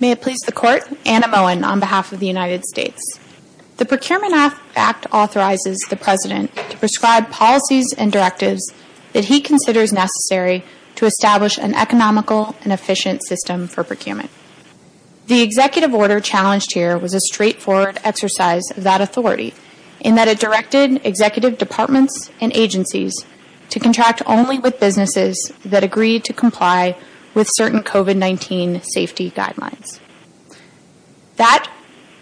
May it please the Court, Anna Moen on behalf of the United States. The Procurement Act authorizes the President to prescribe policies and directives that he considers necessary to establish an economical and efficient system for procurement. The executive order challenged here was a straightforward exercise of that authority in that it directed executive departments and agencies to contract only with businesses that agreed to comply with certain COVID-19 safety guidelines. That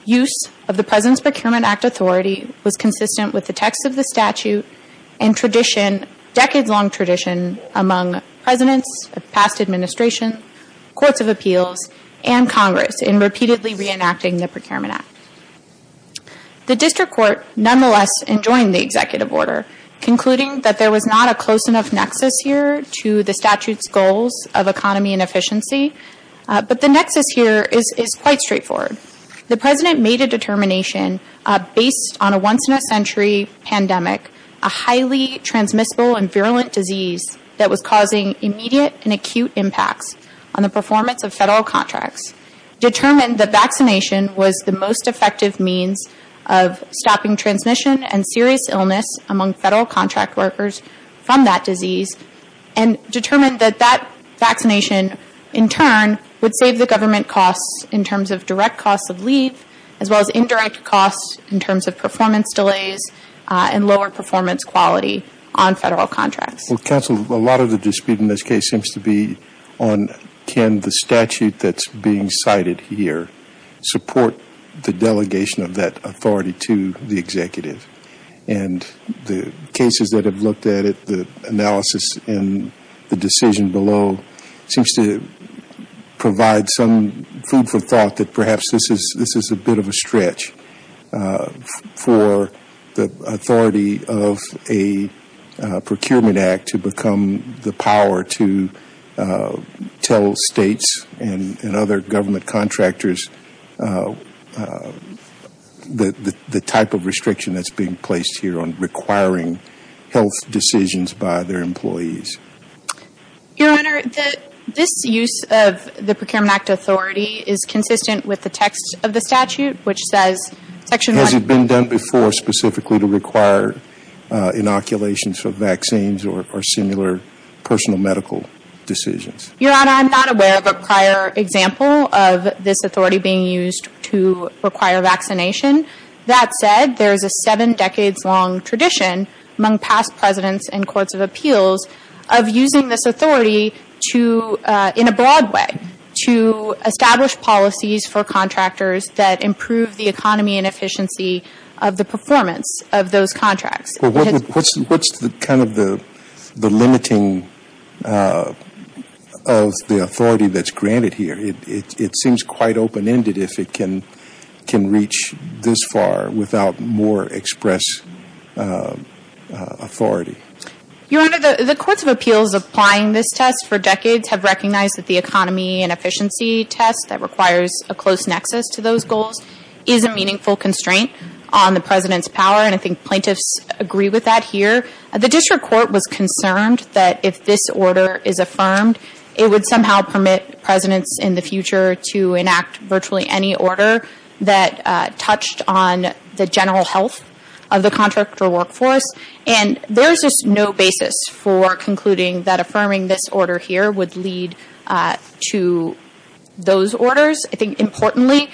use of the President's Procurement Act authority was consistent with the text of the statute and tradition, decades-long tradition, among presidents of past administration, courts of appeals, and Congress in repeatedly reenacting the Procurement Act. The District Court nonetheless enjoined the executive order, concluding that there was not a close enough nexus here to the statute's goals of economy and efficiency, but the nexus here is quite straightforward. The President made a determination based on a once-in-a-century pandemic, a highly transmissible and virulent disease that was causing immediate and acute impacts on the performance of federal contracts, determined that vaccination was the most effective means of stopping transmission and serious illness among federal contract workers from that disease, and determined that that vaccination, in turn, would save the government costs in terms of direct costs of leave, as well as indirect costs in terms of performance delays and lower performance quality on federal contracts. Well, Counsel, a lot of the dispute in this case seems to be on, can the statute that's being cited here support the delegation of that authority to the executive, and the cases that have looked at it, the analysis and the decision below, seems to provide some food for thought that perhaps this is a bit of a stretch for the authority of a Procurement Act to become the power to tell states and other government contractors the type of restriction that's being placed here on requiring health decisions by their employees. Your Honor, this use of the Procurement Act authority is consistent with the text of the statute, which says, Section 1- Has it been done before specifically to require inoculations for vaccines or similar personal medical decisions? Your Honor, I'm not aware of a prior example of this authority being used to require vaccination. That said, there is a seven decades long tradition among past Presidents and Courts of Appeals of using this authority to, in a broad way, to establish policies for contractors that improve the economy and efficiency of the performance of those contracts. Well, what's kind of the limiting of the authority that's granted here? It seems quite open-ended if it can reach this far without more express authority. Your Honor, the Courts of Appeals applying this test for decades have recognized that the economy and efficiency test that requires a close nexus to those goals is a meaningful constraint on the President's power, and I think plaintiffs agree with that here. The District Court was concerned that if this order is affirmed, it would somehow permit Presidents in the future to enact virtually any order that touched on the general health of the contractor workforce, and there's just no basis for concluding that affirming this order here would lead to those orders. I think, importantly,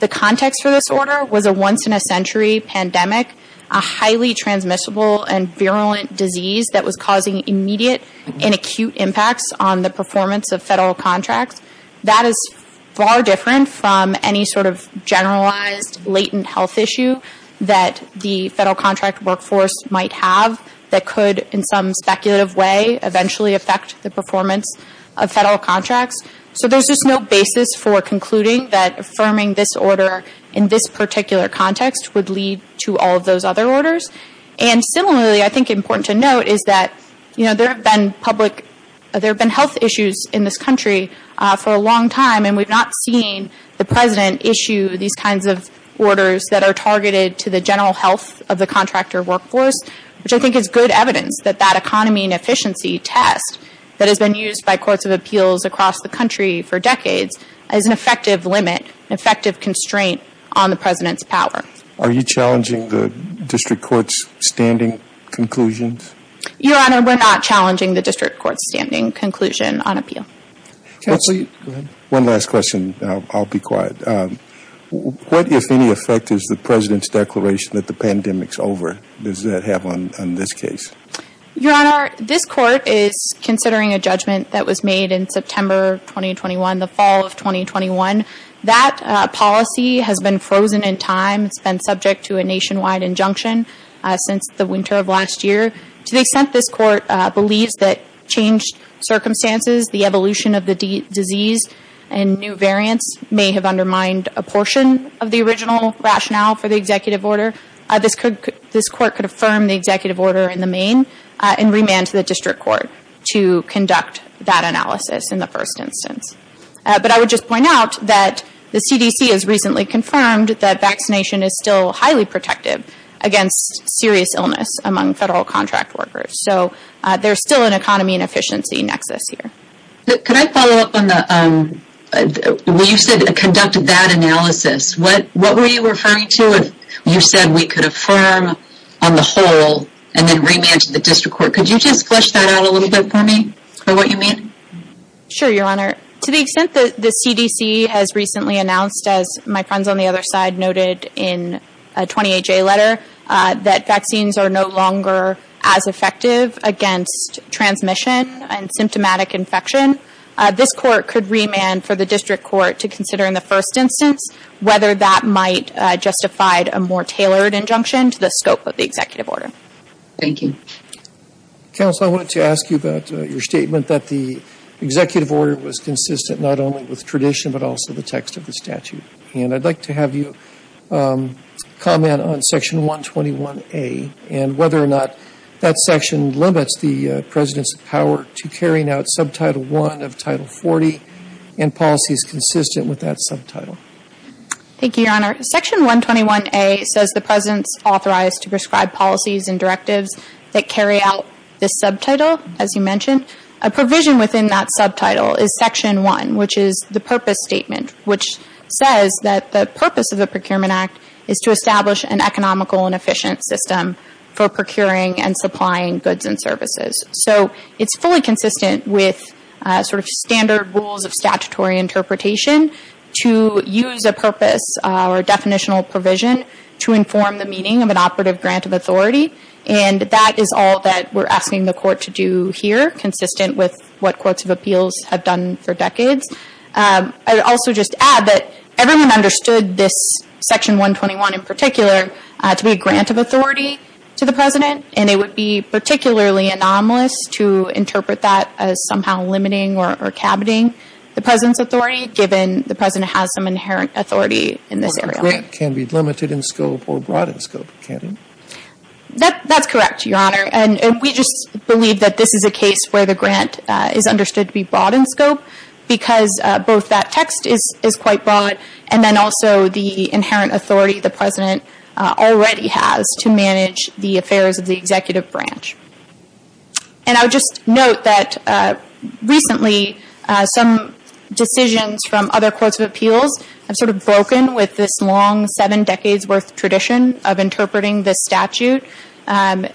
the context for this order was a once-in-a-century pandemic, a highly transmissible and virulent disease that was causing immediate and acute impacts on the performance of federal contracts. That is far different from any sort of generalized, latent health issue that the federal contract workforce might have that could, in some speculative way, eventually affect the performance of federal contracts. So there's just no basis for concluding that affirming this order in this particular context would lead to all of those other orders. And similarly, I think important to note is that there have been health issues in this country for a long time, and we've not seen the President issue these kinds of orders that are targeted to the general health of the contractor workforce, which I think is good evidence that that economy and efficiency test that has been used by courts of appeals across the country for decades is an effective limit, an effective constraint on the President's power. Are you challenging the district court's standing conclusions? Your Honor, we're not challenging the district court's standing conclusion on appeal. One last question. I'll be quiet. What, if any, effect is the President's declaration that the pandemic's over? Does that have on this case? Your Honor, this court is considering a judgment that was made in September 2021, the fall of 2021. That policy has been frozen in time. It's been subject to a nationwide injunction since the winter of last year. To the extent this court believes that changed circumstances, the evolution of the disease and new variants may have undermined a portion of the original rationale for the executive order, this court could affirm the executive order in the main and remand to the district court to conduct that analysis in the first instance. But I would just point out that the CDC has recently confirmed that vaccination is still highly protective against serious illness among federal contract workers. So there's still an economy and efficiency nexus here. Could I follow up on the, when you said conduct that analysis, what were you referring to if you said we could affirm on the whole and then remand to the district court? Could you just flesh that out a little bit for me, for what you mean? Sure, Your Honor. To the extent that the CDC has recently announced, as my friends on the other side noted in a 28-J letter, that vaccines are no longer as effective against transmission and symptomatic infection, this court could remand for the district court to consider in the first instance whether that might justify a more tailored injunction to the scope of the executive order. Thank you. Counsel, I wanted to ask you about your statement that the executive order was consistent not only with tradition but also the text of the statute. And I'd like to have you comment on Section 121A and whether or not that section limits the President's power to carrying out Subtitle 1 of Title 40 and policies consistent with Thank you, Your Honor. Section 121A says the President's authorized to prescribe policies and directives that carry out this subtitle, as you mentioned. A provision within that subtitle is Section 1, which is the purpose statement, which says that the purpose of the Procurement Act is to establish an economical and efficient system for procuring and supplying goods and services. So it's fully consistent with sort of standard rules of statutory interpretation to use a definitional provision to inform the meaning of an operative grant of authority. And that is all that we're asking the Court to do here, consistent with what Courts of Appeals have done for decades. I would also just add that everyone understood this Section 121 in particular to be a grant of authority to the President, and it would be particularly anomalous to interpret that as somehow limiting or caboting the President's authority given the President has some inherent authority in this area. Or the grant can be limited in scope or broad in scope, can it? That's correct, Your Honor, and we just believe that this is a case where the grant is understood to be broad in scope because both that text is quite broad, and then also the inherent authority the President already has to manage the affairs of the executive branch. And I would just note that recently some decisions from other Courts of Appeals have sort of broken with this long seven decades' worth tradition of interpreting this statute.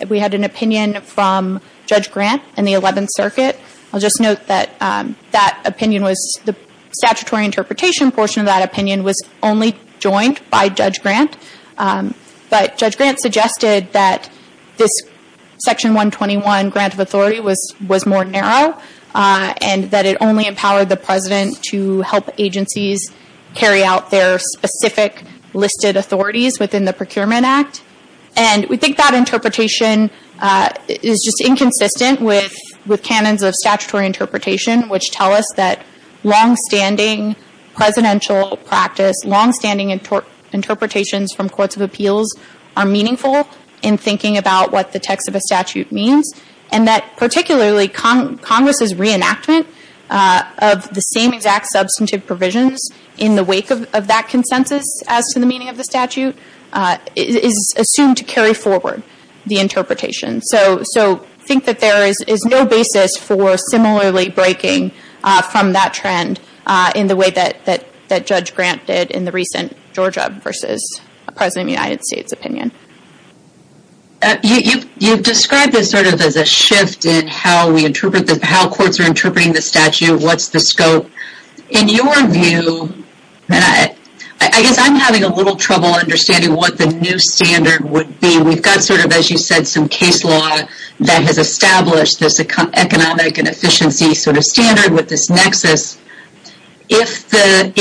We had an opinion from Judge Grant in the Eleventh Circuit. I'll just note that that opinion was, the statutory interpretation portion of that opinion was only joined by Judge Grant. But Judge Grant suggested that this Section 121 grant of authority was more narrow, and that it only empowered the President to help agencies carry out their specific listed authorities within the Procurement Act. And we think that interpretation is just inconsistent with canons of statutory interpretation, which tell us that long-standing presidential practice, long-standing interpretations from Courts of Appeals are meaningful in thinking about what the text of a statute means, and that particularly Congress's reenactment of the same exact substantive provisions in the wake of that consensus as to the meaning of the statute is assumed to carry forward the interpretation. So think that there is no basis for similarly breaking from that trend in the way that Judge Grant did in the recent Georgia v. President of the United States opinion. You've described this sort of as a shift in how we interpret, how courts are interpreting the statute, what's the scope. In your view, I guess I'm having a little trouble understanding what the new standard would be. We've got sort of, as you said, some case law that has established this economic and efficiency sort of standard with this nexus. If that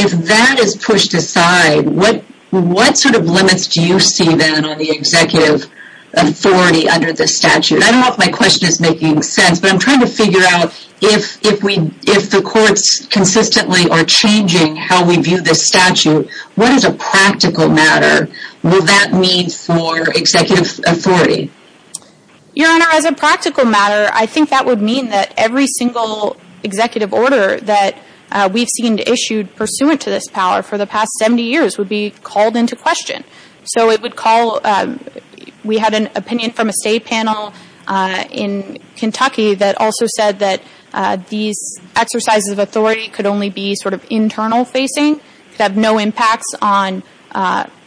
is pushed aside, what sort of limits do you see then on the executive authority under this statute? I don't know if my question is making sense, but I'm trying to figure out if the courts consistently are changing how we view this statute, what is a practical matter? Will that mean for executive authority? Your Honor, as a practical matter, I think that would mean that every single executive order that we've seen issued pursuant to this power for the past 70 years would be called into question. So it would call, we had an opinion from a state panel in Kentucky that also said that these exercises of authority could only be sort of internal facing, could have no impacts on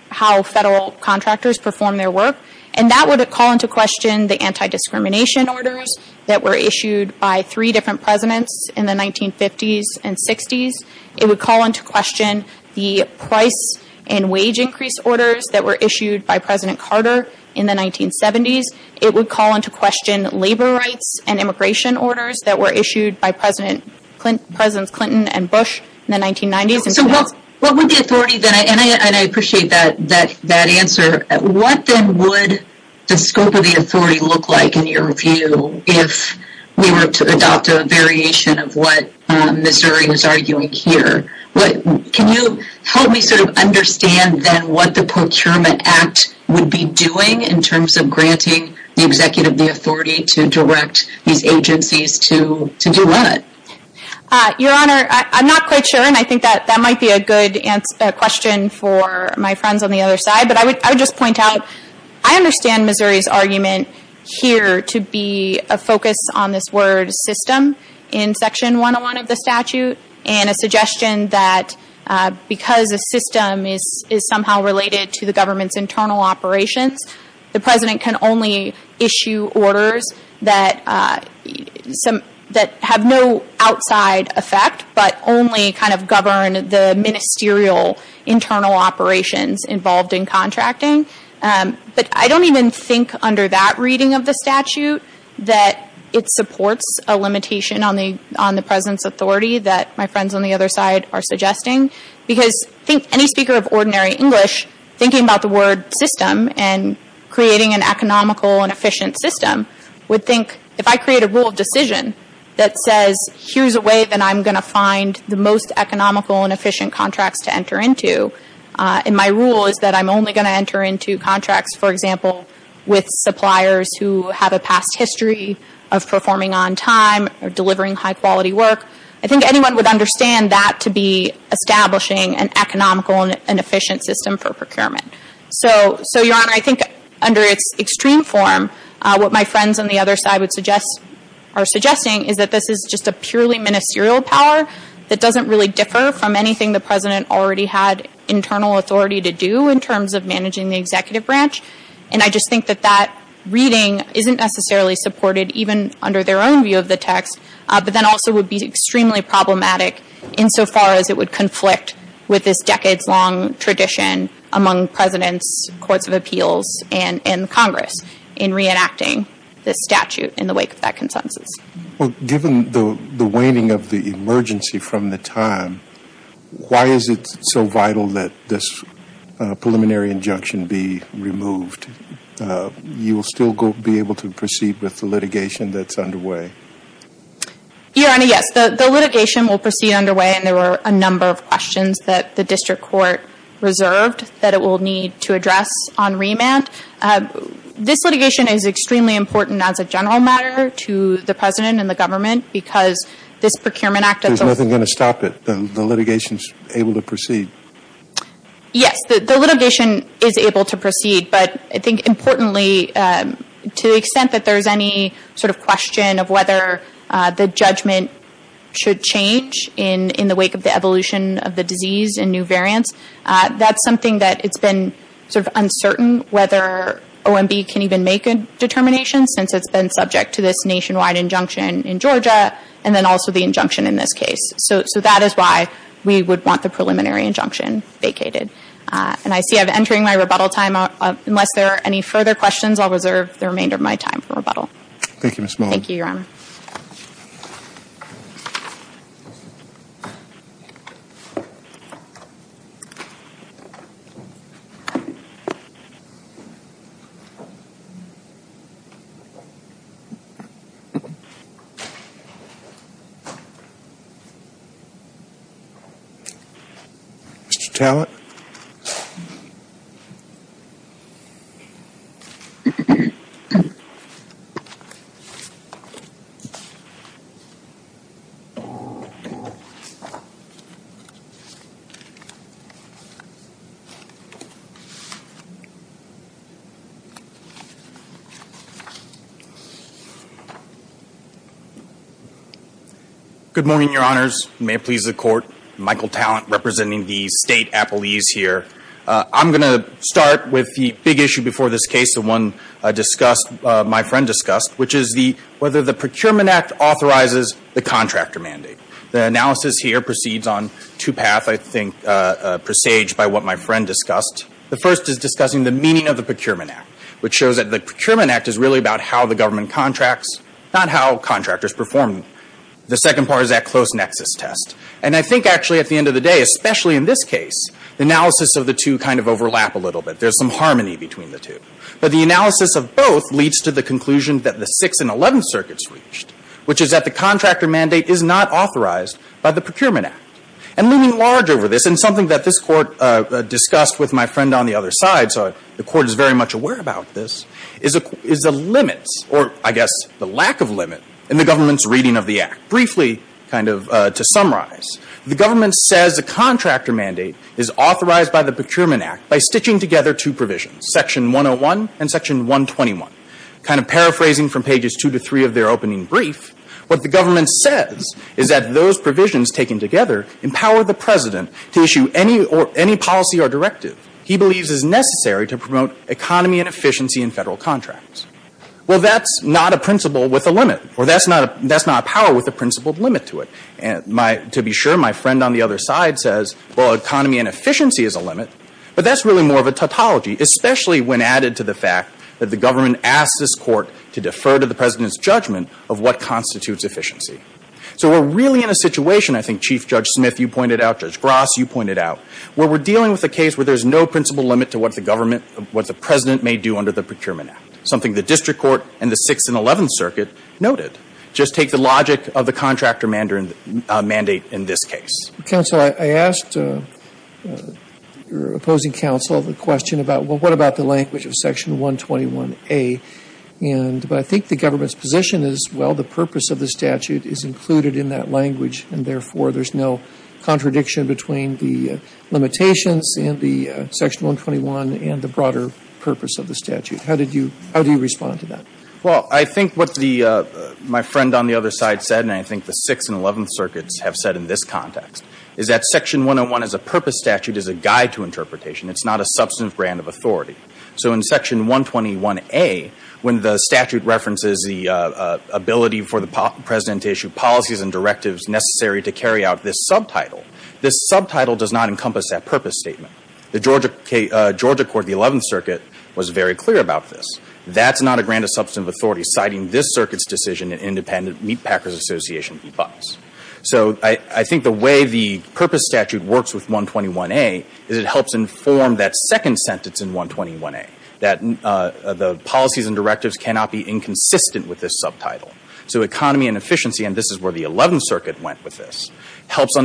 how federal contractors perform their work. And that would call into question the anti-discrimination orders that were issued by three different presidents in the 1950s and 60s. It would call into question the price and wage increase orders that were issued by President Carter in the 1970s. It would call into question labor rights and immigration orders that were issued by Presidents Clinton and Bush in the 1990s. So what would the authority then, and I appreciate that answer, what then would the scope of the authority look like in your view if we were to adopt a variation of what Ms. Urey is arguing here? Can you help me sort of understand then what the Procurement Act would be doing in terms of granting the executive the authority to direct these agencies to do what? Your Honor, I'm not quite sure and I think that might be a good question for my friends on the other side, but I would just point out, I understand Missouri's argument here to be a focus on this word system in Section 101 of the statute and a suggestion that because a system is somehow related to the government's internal operations, the President can only go outside effect but only kind of govern the ministerial internal operations involved in contracting, but I don't even think under that reading of the statute that it supports a limitation on the President's authority that my friends on the other side are suggesting because I think any speaker of ordinary English thinking about the word system and creating an economical and efficient system would think if I create a rule of decision that says here's a way that I'm going to find the most economical and efficient contracts to enter into, and my rule is that I'm only going to enter into contracts, for example, with suppliers who have a past history of performing on time or delivering high quality work, I think anyone would understand that to be establishing an economical and efficient system for procurement. So, Your Honor, I think under its extreme form, what my friends on the other side would suggest or are suggesting is that this is just a purely ministerial power that doesn't really differ from anything the President already had internal authority to do in terms of managing the executive branch, and I just think that that reading isn't necessarily supported even under their own view of the text, but then also would be extremely problematic insofar as it would conflict with this decades-long tradition among Presidents, Courts of Appeals, and Congress in reenacting this statute in the wake of that consensus. Well, given the waning of the emergency from the time, why is it so vital that this preliminary injunction be removed? You will still be able to proceed with the litigation that's underway? Your Honor, yes. The litigation will proceed underway and there were a number of questions that the District Court reserved that it will need to address on remand. This litigation is extremely important as a general matter to the President and the government because this Procurement Act of the... There's nothing going to stop it? The litigation's able to proceed? Yes, the litigation is able to proceed, but I think importantly, to the extent that there's any sort of question of whether the judgment should change in the wake of the evolution of the disease and new variants, that's something that it's been sort of uncertain whether OMB can even make a determination since it's been subject to this nationwide injunction in Georgia and then also the injunction in this case. So that is why we would want the preliminary injunction vacated. And I see I'm entering my rebuttal time. Unless there are any further questions, I'll reserve the remainder of my time for rebuttal. Thank you, Ms. Mullen. Thank you, Your Honor. Mr. Tallent? Good morning, Your Honors. May it please the Court, Michael Tallent representing the State Appellees here. I'm going to start with the big issue before this case, the one discussed, my friend discussed, which is whether the Procurement Act authorizes the contractor mandate. The analysis here proceeds on two paths, I think, presaged by what my friend discussed. The first is discussing the meaning of the Procurement Act, which shows that the Procurement Act is really about how the government contracts, not how contractors perform. The second part is that close nexus test. And I think, actually, at the end of the day, especially in this case, the analysis of the two kind of overlap a little bit. There's some harmony between the two. But the analysis of both leads to the conclusion that the Sixth and Eleventh Circuits reached, which is that the contractor mandate is not authorized by the Procurement Act. And looming large over this, and something that this Court discussed with my friend on the other side, so the Court is very much aware about this, is a limit, or I guess the lack of limit, in the government's reading of the Act. Briefly, kind of to summarize, the government says the contractor mandate is authorized by the Procurement Act by stitching together two provisions, Section 101 and Section 121. Kind of paraphrasing from pages two to three of their opening brief, what the government says is that those provisions taken together empower the President to issue any policy or directive he believes is necessary to promote economy and efficiency in Federal contracts. Well, that's not a principle with a limit, or that's not a power with a principled limit to it. And to be sure, my friend on the other side says, well, economy and efficiency is a limit, but that's really more of a tautology, especially when added to the fact that the government asked this Court to defer to the President's judgment of what constitutes efficiency. So we're really in a situation, I think, Chief Judge Smith, you pointed out, Judge Gross, you pointed out, where we're dealing with a case where there's no principled limit to what the government, what the President may do under the Procurement Act, something the District Court and the 6th and 11th Circuit noted. Just take the logic of the contractor mandate in this case. Counsel, I asked your opposing counsel the question about, well, what about the language of Section 121A? And I think the government's position is, well, the purpose of the statute is included in that language, and therefore, there's no contradiction between the limitations in the Section 121 and the broader purpose of the statute. How did you respond to that? Well, I think what my friend on the other side said, and I think the 6th and 11th Circuits have said in this context, is that Section 101 as a purpose statute is a guide to interpretation. It's not a substantive brand of authority. So in Section 121A, when the statute references the ability for the President to issue policies and directives necessary to carry out this subtitle, this subtitle does not encompass that purpose statement. The Georgia Court, the 11th Circuit, was very clear about this. That's not a grand substantive authority, citing this Circuit's decision in independent Meatpacker's Association v. Fox. So I think the way the purpose statute works with 121A is it helps inform that second sentence in 121A, that the policies and directives cannot be inconsistent with this subtitle. So economy and efficiency, and this is where the 11th Circuit went with this, helps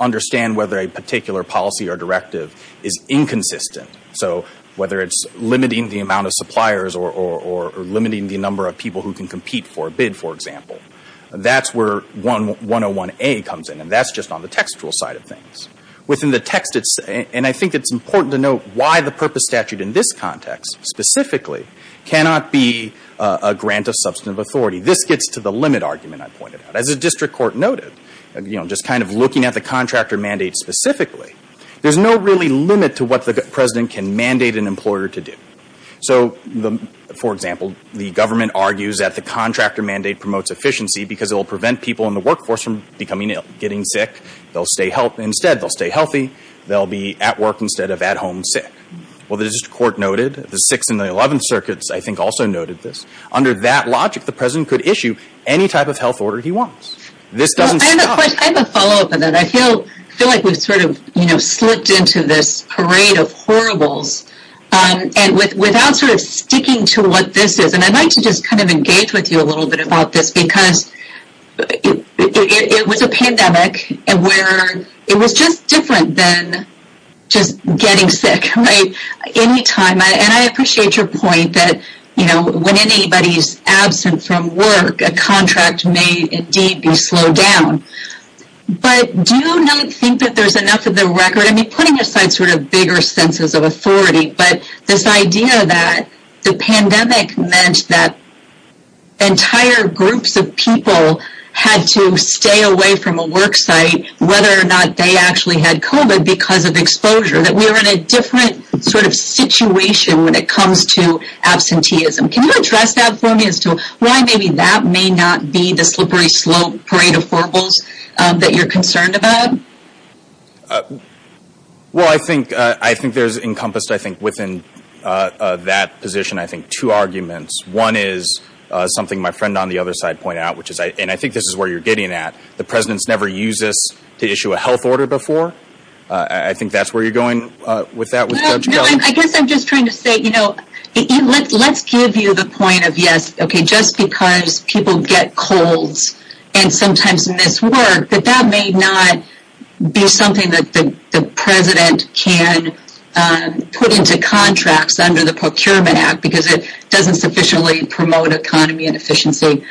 understand whether a particular policy or directive is inconsistent. So whether it's limiting the amount of suppliers or limiting the number of people who can compete for a bid, for example, that's where 101A comes in. And that's just on the textual side of things. Within the text, and I think it's important to note why the purpose statute in this context specifically cannot be a grant of substantive authority. This gets to the limit argument I pointed out. As the district court noted, you know, just kind of looking at the contractor mandate specifically, there's no really limit to what the president can mandate an employer to do. So for example, the government argues that the contractor mandate promotes efficiency because it will prevent people in the workforce from becoming ill, getting sick. They'll stay healthy. Instead, they'll stay healthy. They'll be at work instead of at home sick. Well, the district court noted, the 6th and the 11th Circuits, I think, also noted this. Under that logic, the president could issue any type of health order he wants. I have a follow-up on that. I feel like we've sort of slipped into this parade of horribles and without sort of sticking to what this is. And I'd like to just kind of engage with you a little bit about this because it was a pandemic where it was just different than just getting sick, right? Anytime. And I appreciate your point that, you know, when anybody's absent from work, a contract may indeed be slowed down. But do you not think that there's enough of the record? I mean, putting aside sort of bigger senses of authority, but this idea that the pandemic meant that entire groups of people had to stay away from a work site whether or not they actually had COVID because of exposure, that we're in a different sort of situation when it comes to absenteeism. Can you address that for me as to why maybe that may not be the slippery slope parade of horribles that you're concerned about? Well, I think there's encompassed, I think, within that position, I think, two arguments. One is something my friend on the other side pointed out, which is, and I think this is where you're getting at, the president's never used this to issue a health order before. I think that's where you're going with that. I guess I'm just trying to say, you know, let's give you the point of, yes, okay, just because people get colds and sometimes in this work, but that may not be something that the president can put into contracts under the Procurement Act because it doesn't sufficiently promote economy and efficiency.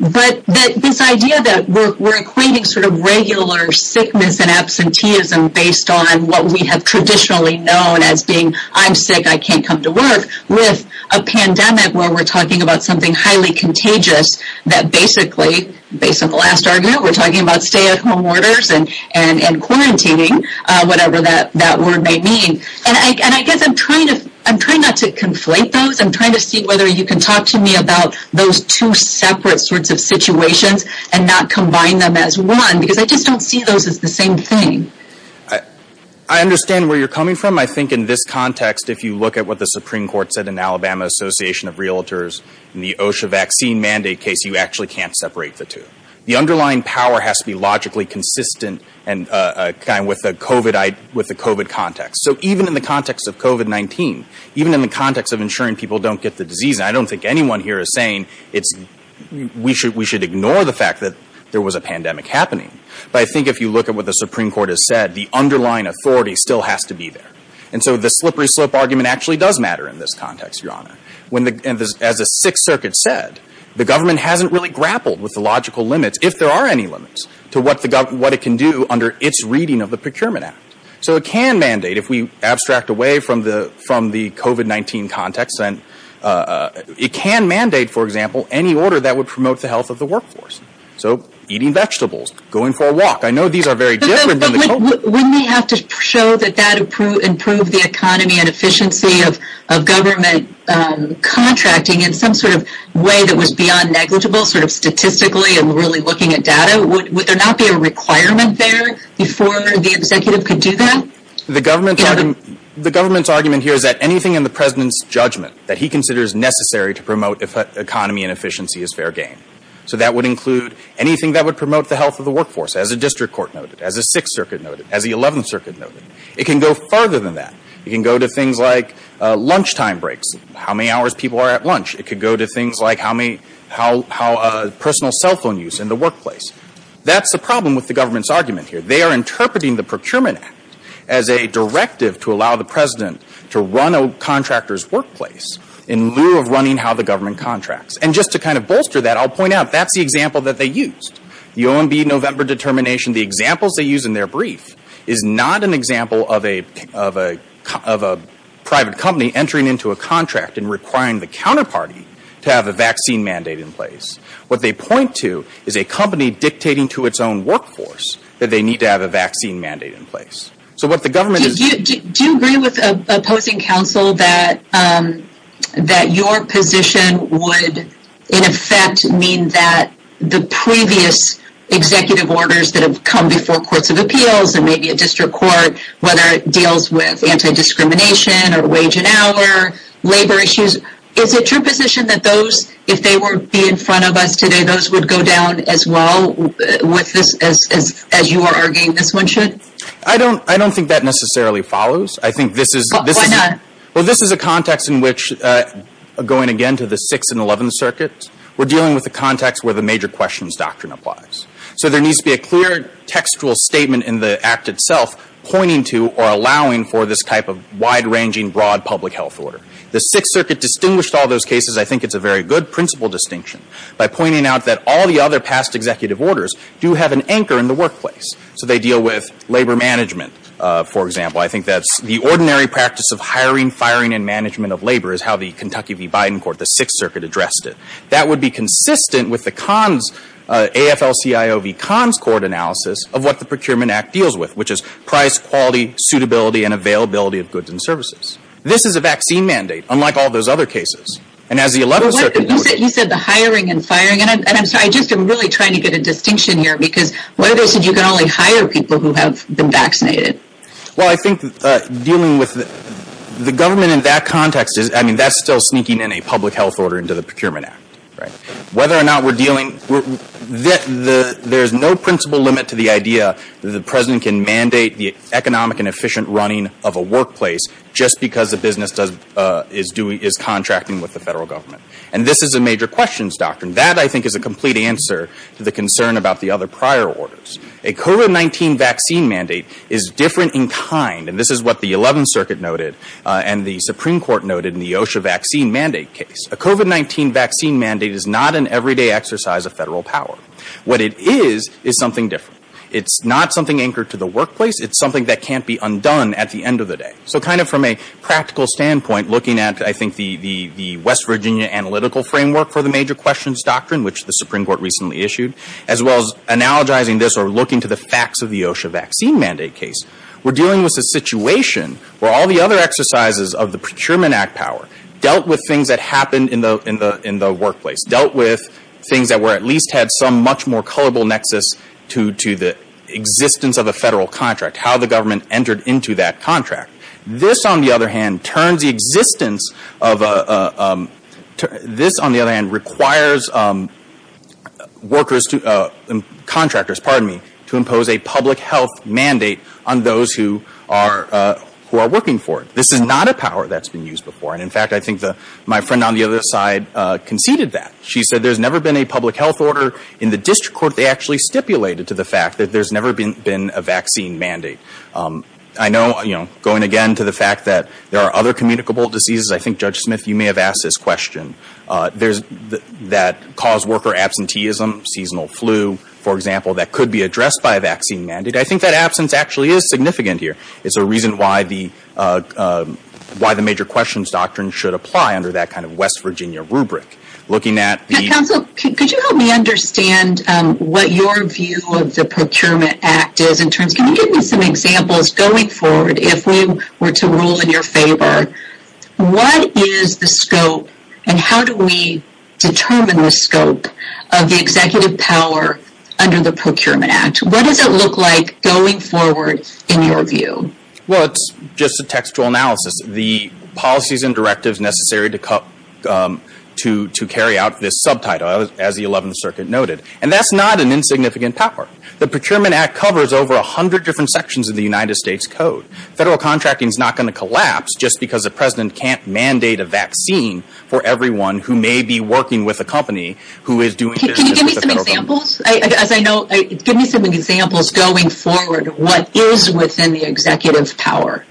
But that this idea that we're equating sort of regular sickness and absenteeism based on what we have traditionally known as being, I'm sick, I can't come to work with a pandemic where we're talking about something highly contagious that basically, based on the last argument, we're talking about stay at home orders and quarantining, whatever that word may mean. And I guess I'm trying to, I'm trying not to conflate those. I'm trying to see whether you can talk to me about those two separate sorts of situations and not combine them as one, because I just don't see those as the same thing. I understand where you're coming from. I think in this context, if you look at what the Supreme Court said in Alabama Association of Realtors, in the OSHA vaccine mandate case, you actually can't separate the two. The underlying power has to be logically consistent and kind of with the COVID context. So even in the context of COVID-19, even in the context of ensuring people don't get the disease, and I don't think anyone here is saying it's, we should, we should ignore the fact that there was a pandemic happening. But I think if you look at what the Supreme Court has said, the underlying authority still has to be there. And so the slippery slope argument actually does matter in this context, Your Honor. When the, as the Sixth Circuit said, the government hasn't really grappled with the logical limits, if there are any limits, to what the government, what it can do under its reading of the Procurement Act. So it can mandate, if we abstract away from the, from the COVID-19 context, and it can mandate, for example, any order that would promote the health of the workforce. So eating vegetables, going for a walk. I know these are very different than the COVID. But wouldn't they have to show that that improved the economy and efficiency of government contracting in some sort of way that was beyond negligible sort of statistically and really looking at data? Would there not be a requirement there before the executive could do that? The government's argument, the government's argument here is that anything in the President's judgment that he considers necessary to promote economy and efficiency is fair game. So that would include anything that would promote the health of the workforce, as a district court noted, as a Sixth Circuit noted, as the Eleventh Circuit noted. It can go further than that. It can go to things like lunchtime breaks, how many hours people are at lunch. It could go to things like how many, how, how personal cell phone use in the workplace. That's the problem with the government's argument here. They are interpreting the Procurement Act as a directive to allow the President to run a contractor's workplace in lieu of running how the government contracts. And just to kind of bolster that, I'll point out that's the example that they used. The OMB November determination, the examples they use in their brief is not an example of a, of a, of a private company entering into a contract and requiring the counterparty to have a vaccine mandate in place. What they point to is a company dictating to its own workforce that they need to have a vaccine mandate in place. So what the government is... Do you, do you agree with opposing counsel that, um, that your position would in effect mean that the previous executive orders that have come before courts of appeals and maybe a district court, whether it deals with anti-discrimination or wage an hour, labor issues, is it your position that those, if they were to be in front of us today, those would go down as well with this, as, as, as you are arguing this one should? I don't, I don't think that necessarily follows. I think this is... Why not? Well, this is a context in which, going again to the 6th and 11th circuits, we're dealing with a context where the major questions doctrine applies. So there needs to be a clear textual statement in the Act itself pointing to or allowing for this type of wide-ranging, broad public health order. The 6th circuit distinguished all those cases. I think it's a very good principle distinction by pointing out that all the other past executive orders do have an anchor in the workplace. So they deal with labor management, for example. I think that's the ordinary practice of hiring, firing, and management of labor is how the Kentucky v. Biden court, the 6th circuit, addressed it. That would be consistent with the cons, AFL-CIO v. cons court analysis of what the Procurement Act deals with, which is price, quality, suitability, and availability of goods and services. This is a vaccine mandate, unlike all those other cases. And as the 11th circuit... He said the hiring and firing. And I'm sorry, I'm just really trying to get a distinction here because one of those said you can only hire people who have been vaccinated. Well, I think dealing with the government in that context is, I mean, that's still sneaking in a public health order into the Procurement Act, right? Whether or not we're dealing... There's no principle limit to the idea that the President can mandate the economic and efficient running of a workplace just because the business is doing, is contracting with the federal government. And this is a major questions doctrine. That, I think, is a complete answer to the concern about the other prior orders. A COVID-19 vaccine mandate is different in kind, and this is what the 11th circuit noted and the Supreme Court noted in the OSHA vaccine mandate case. A COVID-19 vaccine mandate is not an everyday exercise of federal power. What it is is something different. It's not something anchored to the workplace. It's something that can't be undone at the end of the day. So kind of from a practical standpoint, looking at, I think, the West Virginia analytical framework for the major questions doctrine, which the Supreme Court recently issued, as well as analogizing this or looking to the facts of the OSHA vaccine mandate case, we're dealing with a situation where all the other exercises of the Procurement Act power dealt with things that happened in the workplace, dealt with things that were at least had some much more colorable nexus to the existence of a federal contract, how the government entered into that contract. This, on the other hand, turns the existence of a, this, on the other hand, requires workers to, contractors, pardon me, to impose a public health mandate on those who are, who are working for it. This is not a power that's been used before. And, in fact, I think the, my friend on the other side conceded that. She said there's never been a public health order in the district court. They actually stipulated to the fact that there's never been, been a vaccine mandate. I know, you know, going again to the fact that there are other communicable diseases. I think, Judge Smith, you may have asked this question. There's, that cause worker absenteeism, seasonal flu, for example, that could be addressed by a vaccine mandate. I think that absence actually is significant here. It's a reason why the, why the major questions doctrine should apply under that kind of West Virginia rubric. Looking at the... Can you give me some examples going forward? If we were to rule in your favor, what is the scope and how do we determine the scope of the executive power under the Procurement Act? What does it look like going forward in your view? Well, it's just a textual analysis. The policies and directives necessary to cut, to, to carry out this subtitle as the 11th Circuit noted. And that's not an insignificant power. The 100 different sections of the United States Code. Federal contracting is not going to collapse just because the President can't mandate a vaccine for everyone who may be working with a company who is doing business with the federal government. Can you give me some examples? As I know, give me some examples going forward. What is within the executive power?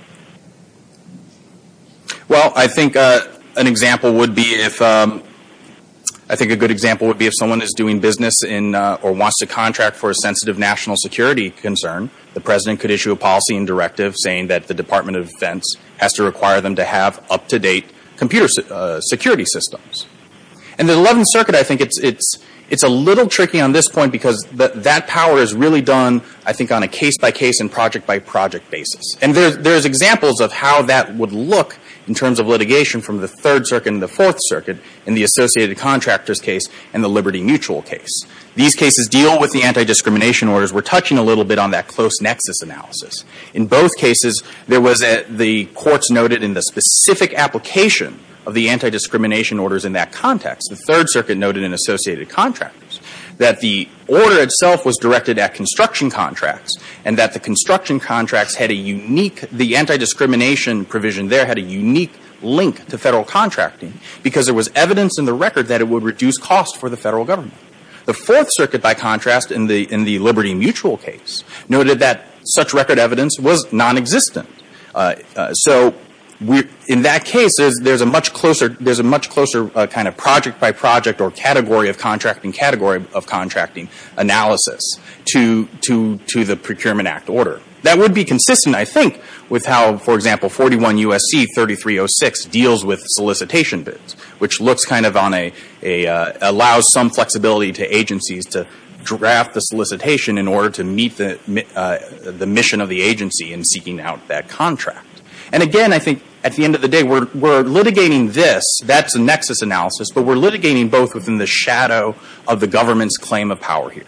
Well, I think an example would be if, I think a good example would be if someone is doing business in, or wants to contract for a sensitive national security concern, the President could issue a policy and directive saying that the Department of Defense has to require them to have up-to-date computer security systems. And the 11th Circuit, I think it's, it's, it's a little tricky on this point because that power is really done, I think, on a case-by-case and project-by-project basis. And there's, there's examples of how that would look in terms of litigation from the 3rd Circuit and the 4th Circuit in the Associated Contractors case and the Liberty Mutual case. These cases deal with the anti-discrimination orders. We're touching a little bit on that close nexus analysis. In both cases, there was a, the courts noted in the specific application of the anti-discrimination orders in that context, the 3rd Circuit noted in Associated Contractors that the order itself was directed at construction contracts and that the construction contracts had a unique, the anti-discrimination provision there had a unique link to federal contracting because there was evidence in the record that it would reduce cost for the federal government. The 4th Circuit, by contrast, in the, in the Liberty Mutual case, noted that such record evidence was nonexistent. So we're, in that case, there's, there's a much closer, there's a much closer kind of project-by-project or category of contracting, category of contracting analysis to, to, to the Procurement Act order. That would be consistent, I think, with how, for example, 41 U.S.C. 3306 deals with solicitation bids, which looks kind of on a, a, allows some flexibility to agencies to draft the solicitation in order to meet the, the mission of the agency in seeking out that contract. And again, I think, at the end of the day, we're, we're litigating this, that's a nexus analysis, but we're litigating both within the shadow of the government's claim of power here,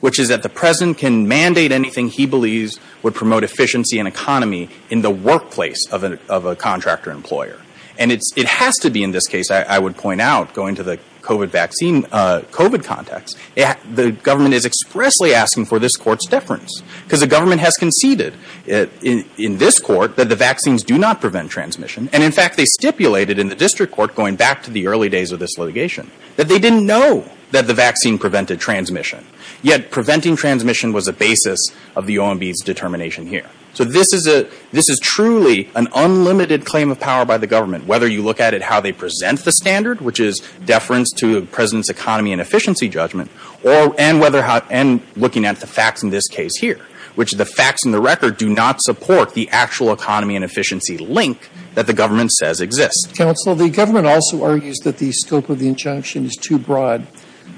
which is that the President can mandate anything he believes would promote efficiency and economy in the workplace of a, of a contractor-employer. And it's, it has to be, in this case, I, I would point out, going to the COVID vaccine, COVID context, it, the government is expressly asking for this Court's deference. Because the government has conceded in, in this Court that the vaccines do not prevent transmission. And in fact, they stipulated in the district court, going back to the early days of this litigation, that they didn't know that the vaccine prevented transmission. Yet, preventing transmission was a basis of the OMB's determination here. So this is a, this is truly an unlimited claim of power by the government, whether you look at it how they present the standard, which is deference to the President's economy and efficiency judgment, or, and whether how, and looking at the facts in this case here, which the facts in the record do not support the actual economy and efficiency link that the government says exists. Counsel, the government also argues that the scope of the injunction is too broad.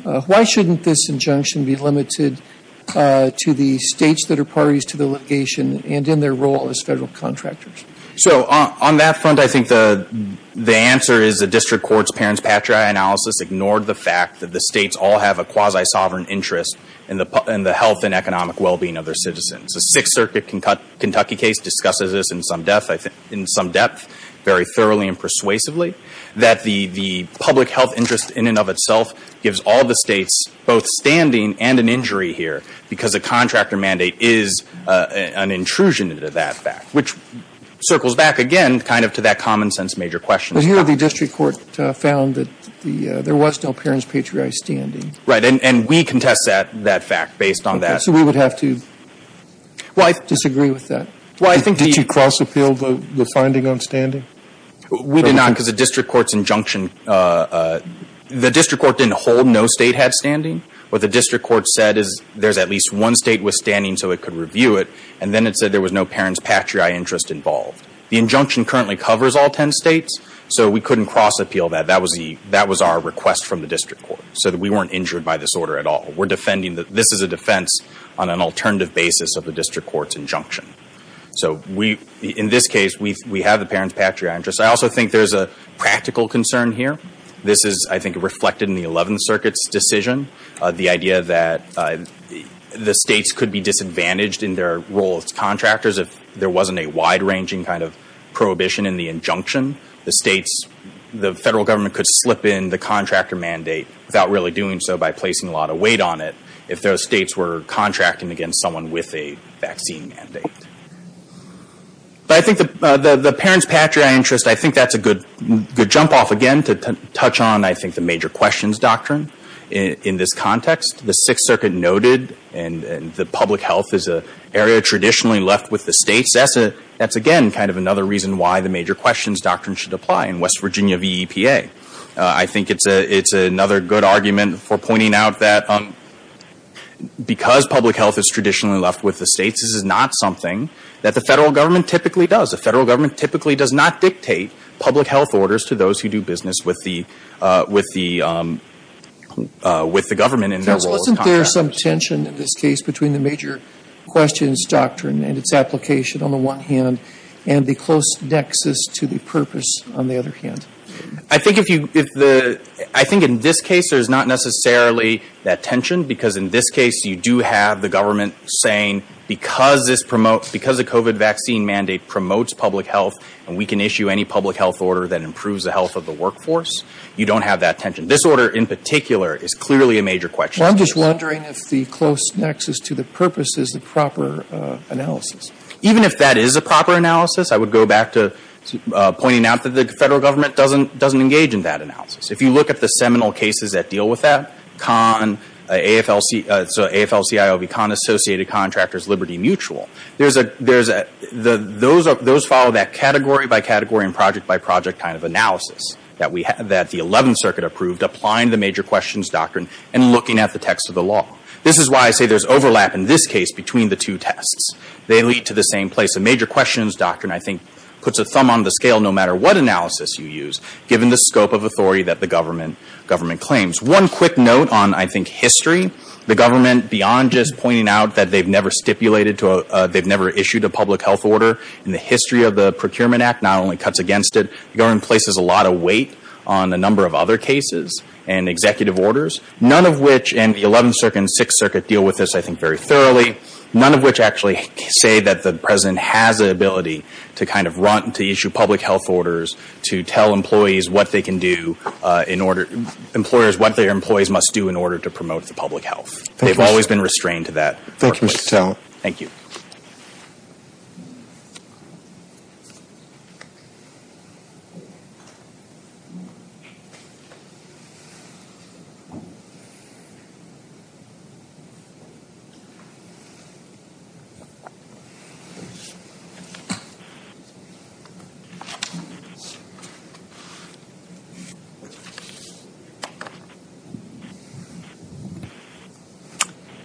Why shouldn't this injunction be limited to the states that are parties to the litigation and in their role as federal contractors? So on, on that front, I think the, the answer is the district court's Parents Patria analysis ignored the fact that the states all have a quasi-sovereign interest in the, in the health and economic well-being of their citizens. The Sixth Circuit Kentucky case discusses this in some depth, I think, in some depth, very thoroughly and persuasively, that the, the public health interest in and of itself gives all the states both standing and an injury here, because a contractor mandate is an intrusion into that fact, which circles back again, kind of, to that common sense major question. But here the district court found that the, there was no Parents Patria standing. Right. And, and we contest that, that fact based on that. So we would have to, well, I disagree with that. Well, I think the... Did you cross-appeal the, the finding on standing? We did not, because the district court's injunction, the district court didn't hold no state had standing. What the district court said is there's at least one state withstanding so it could review it. And then it said there was no Parents Patria interest involved. The injunction currently covers all ten states, so we couldn't cross-appeal that. That was the, that was our request from the district court, so that we weren't injured by this order at all. We're defending that this is a defense on an alternative basis of the district court's So we, in this case, we, we have the Parents Patria interest. I also think there's a practical concern here. This is, I think, reflected in the Eleventh Circuit's decision. The idea that the states could be disadvantaged in their role as contractors if there wasn't a wide-ranging kind of prohibition in the injunction. The states, the federal government could slip in the contractor mandate without really doing so by placing a lot of weight on it if those states were contracting against someone with a vaccine mandate. But I think the, the, the Parents Patria interest, I think that's a good, good jump off again to touch on, I think, the major questions doctrine in, in this context. The Sixth Circuit noted and, and that public health is an area traditionally left with the states. That's a, that's again kind of another reason why the major questions doctrine should apply in West Virginia VEPA. I think it's a, it's another good argument for pointing out that because public health is traditionally left with the states, this is not something that the federal government typically does. The federal government typically does not dictate public health orders to those who do business with the, with the, with the government in their role as contractors. So wasn't there some tension in this case between the major questions doctrine and its application on the one hand and the close nexus to the purpose on the other hand? I think if you, if the, I think in this case there's not necessarily that tension because in this case you do have the government saying because this promotes, because the COVID vaccine mandate promotes public health and we can issue any public health order that improves the health of the workforce, you don't have that tension. This order in particular is clearly a major question. Well, I'm just wondering if the close nexus to the purpose is the proper analysis. Even if that is a proper analysis, I would go back to pointing out that the federal government doesn't, doesn't engage in that analysis. If you look at the seminal cases that deal with that, Kahn, AFLC, so AFLCIOV, Kahn Associated Contractors Liberty Mutual, there's a, there's a, the, those are, those follow that category by category and project by project kind of analysis that we have, that the 11th Circuit approved applying the major questions doctrine and looking at the text of the law. This is why I say there's overlap in this case between the two tests. They lead to the same place. The major questions doctrine I think puts a thumb on the scale no matter what analysis you use, given the scope of authority that the government, government claims. One quick note on, I think, history. The government, beyond just pointing out that they've never stipulated to a, they've never issued a public health order in the history of the Procurement Act, not only cuts against it, the government places a lot of weight on a number of other cases and executive orders. None of which, and the 11th Circuit and 6th Circuit deal with this, I think, very thoroughly. None of which actually say that the President has the ability to kind of run, to issue public health orders, to tell employees what they can do in order, employers what their employees must do in order to promote the public health. They've always been restrained to that. Thank you, Mr. Towne. Thank you.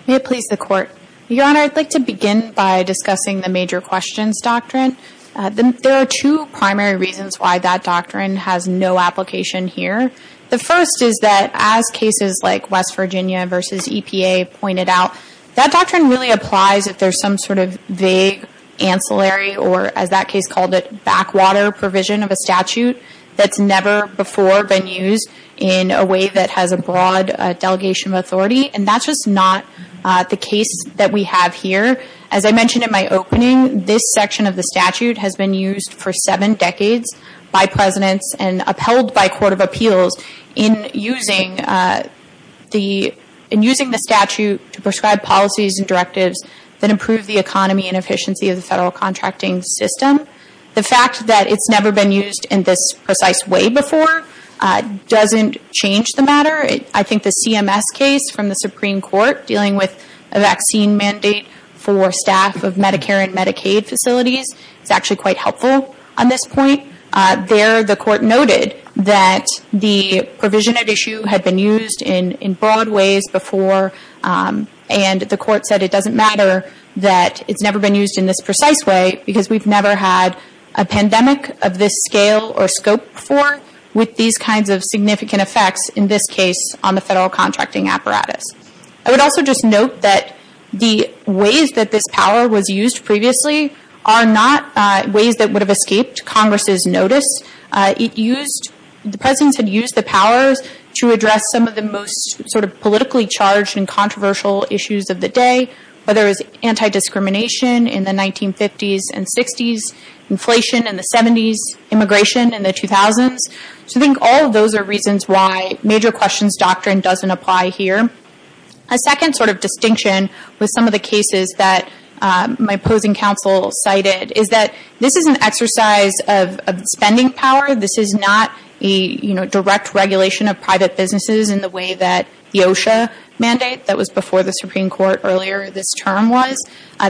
May it please the Court, Your Honor, I'd like to begin by discussing the major questions doctrine. There are two primary reasons why that doctrine has no application here. The first is that as cases like West Virginia versus EPA pointed out, that doctrine really applies if there's some sort of vague ancillary, or as that case called it, backwater provision of a statute that's never before been used in a way that has a broad delegation of authority. And that's just not the case that we have here. As I mentioned in my opening, this section of the statute has been used for seven decades by Presidents and upheld by Court of Appeals in using the statute to prescribe policies and directives that improve the economy and efficiency of the federal contracting system. The fact that it's never been used in this precise way before doesn't change the matter. I think the CMS case from the Supreme Court dealing with a vaccine mandate for staff of Medicare and Medicaid facilities is actually quite helpful on this point. There, the Court noted that the provision at issue had been used in broad ways before, and the Court said it doesn't matter that it's never been used in this precise way because we've never had a pandemic of this scale or scope before with these kinds of significant effects in this case on the federal contracting apparatus. I would also just note that the ways that this power was used previously are not ways that would have escaped Congress's notice. The Presidents had used the powers to address some of the most sort of politically charged and controversial issues of the day, whether it was anti-discrimination in the 1950s and 60s, inflation in the 70s, immigration in the 2000s. So I think all of those are reasons why major questions doctrine doesn't apply here. A second sort of distinction with some of the cases that my opposing counsel cited is that this is an exercise of spending power. This is not a direct regulation of private businesses in the way that the OSHA mandate that was before the Supreme Court earlier this term was.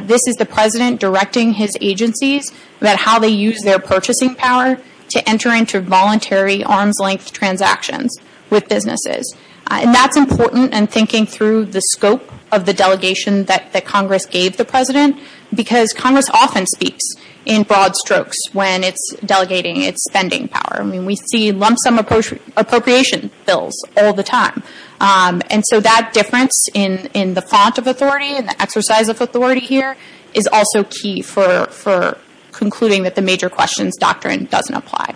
This is the President directing his agencies about how they use their purchasing power to enter into voluntary arm's-length transactions with businesses, and that's important in thinking through the scope of the delegation that Congress gave the President because Congress often speaks in broad strokes when it's delegating its spending power. I mean, we see lump sum appropriation bills all the time. And so that difference in the font of authority and the exercise of authority here is also key for concluding that the major questions doctrine doesn't apply.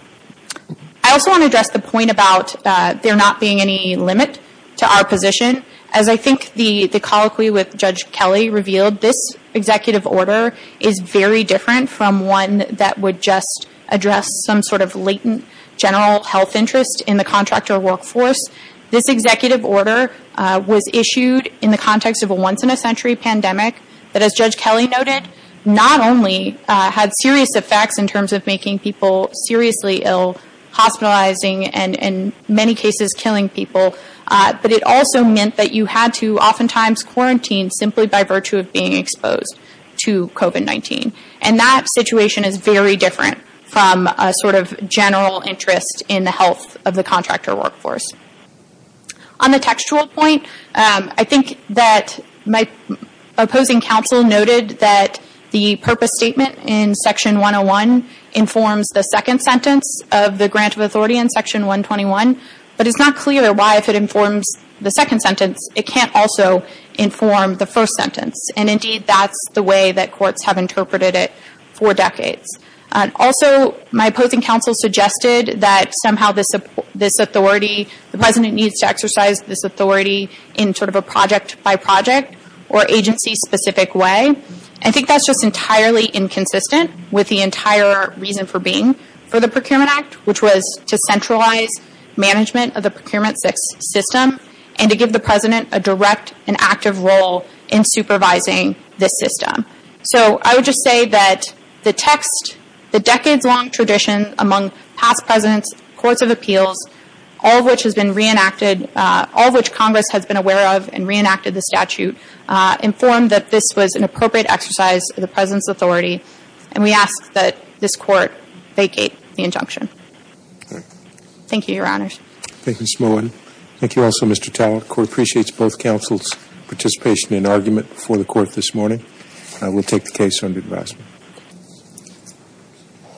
I also want to address the point about there not being any limit to our position. As I think the colloquy with Judge Kelly revealed, this executive order is very different from one that would just address some sort of latent general health interest in the contractor workforce. This executive order was issued in the context of a once-in-a-century pandemic that, as Judge Kelly noted, not only had serious effects in terms of making people seriously ill, hospitalizing and in many cases killing people, but it also meant that you had to oftentimes quarantine simply by virtue of being exposed to COVID-19. And that situation is very different from a sort of general interest in the health of the contractor workforce. On the textual point, I think that my opposing counsel noted that the purpose statement in Section 121, but it's not clear why if it informs the second sentence, it can't also inform the first sentence. And indeed, that's the way that courts have interpreted it for decades. Also, my opposing counsel suggested that somehow this authority, the President needs to exercise this authority in sort of a project-by-project or agency-specific way. I think that's just entirely inconsistent with the entire reason for being for the Procurement Act, which was to centralize management of the procurement system and to give the President a direct and active role in supervising this system. So I would just say that the text, the decades-long tradition among past presidents, courts of appeals, all of which has been reenacted, all of which Congress has been aware of and reenacted the statute, informed that this was an appropriate exercise of the President's function. Thank you, Your Honors. Thank you, Ms. Mullen. Thank you also, Mr. Talbot. The Court appreciates both counsel's participation and argument before the Court this morning.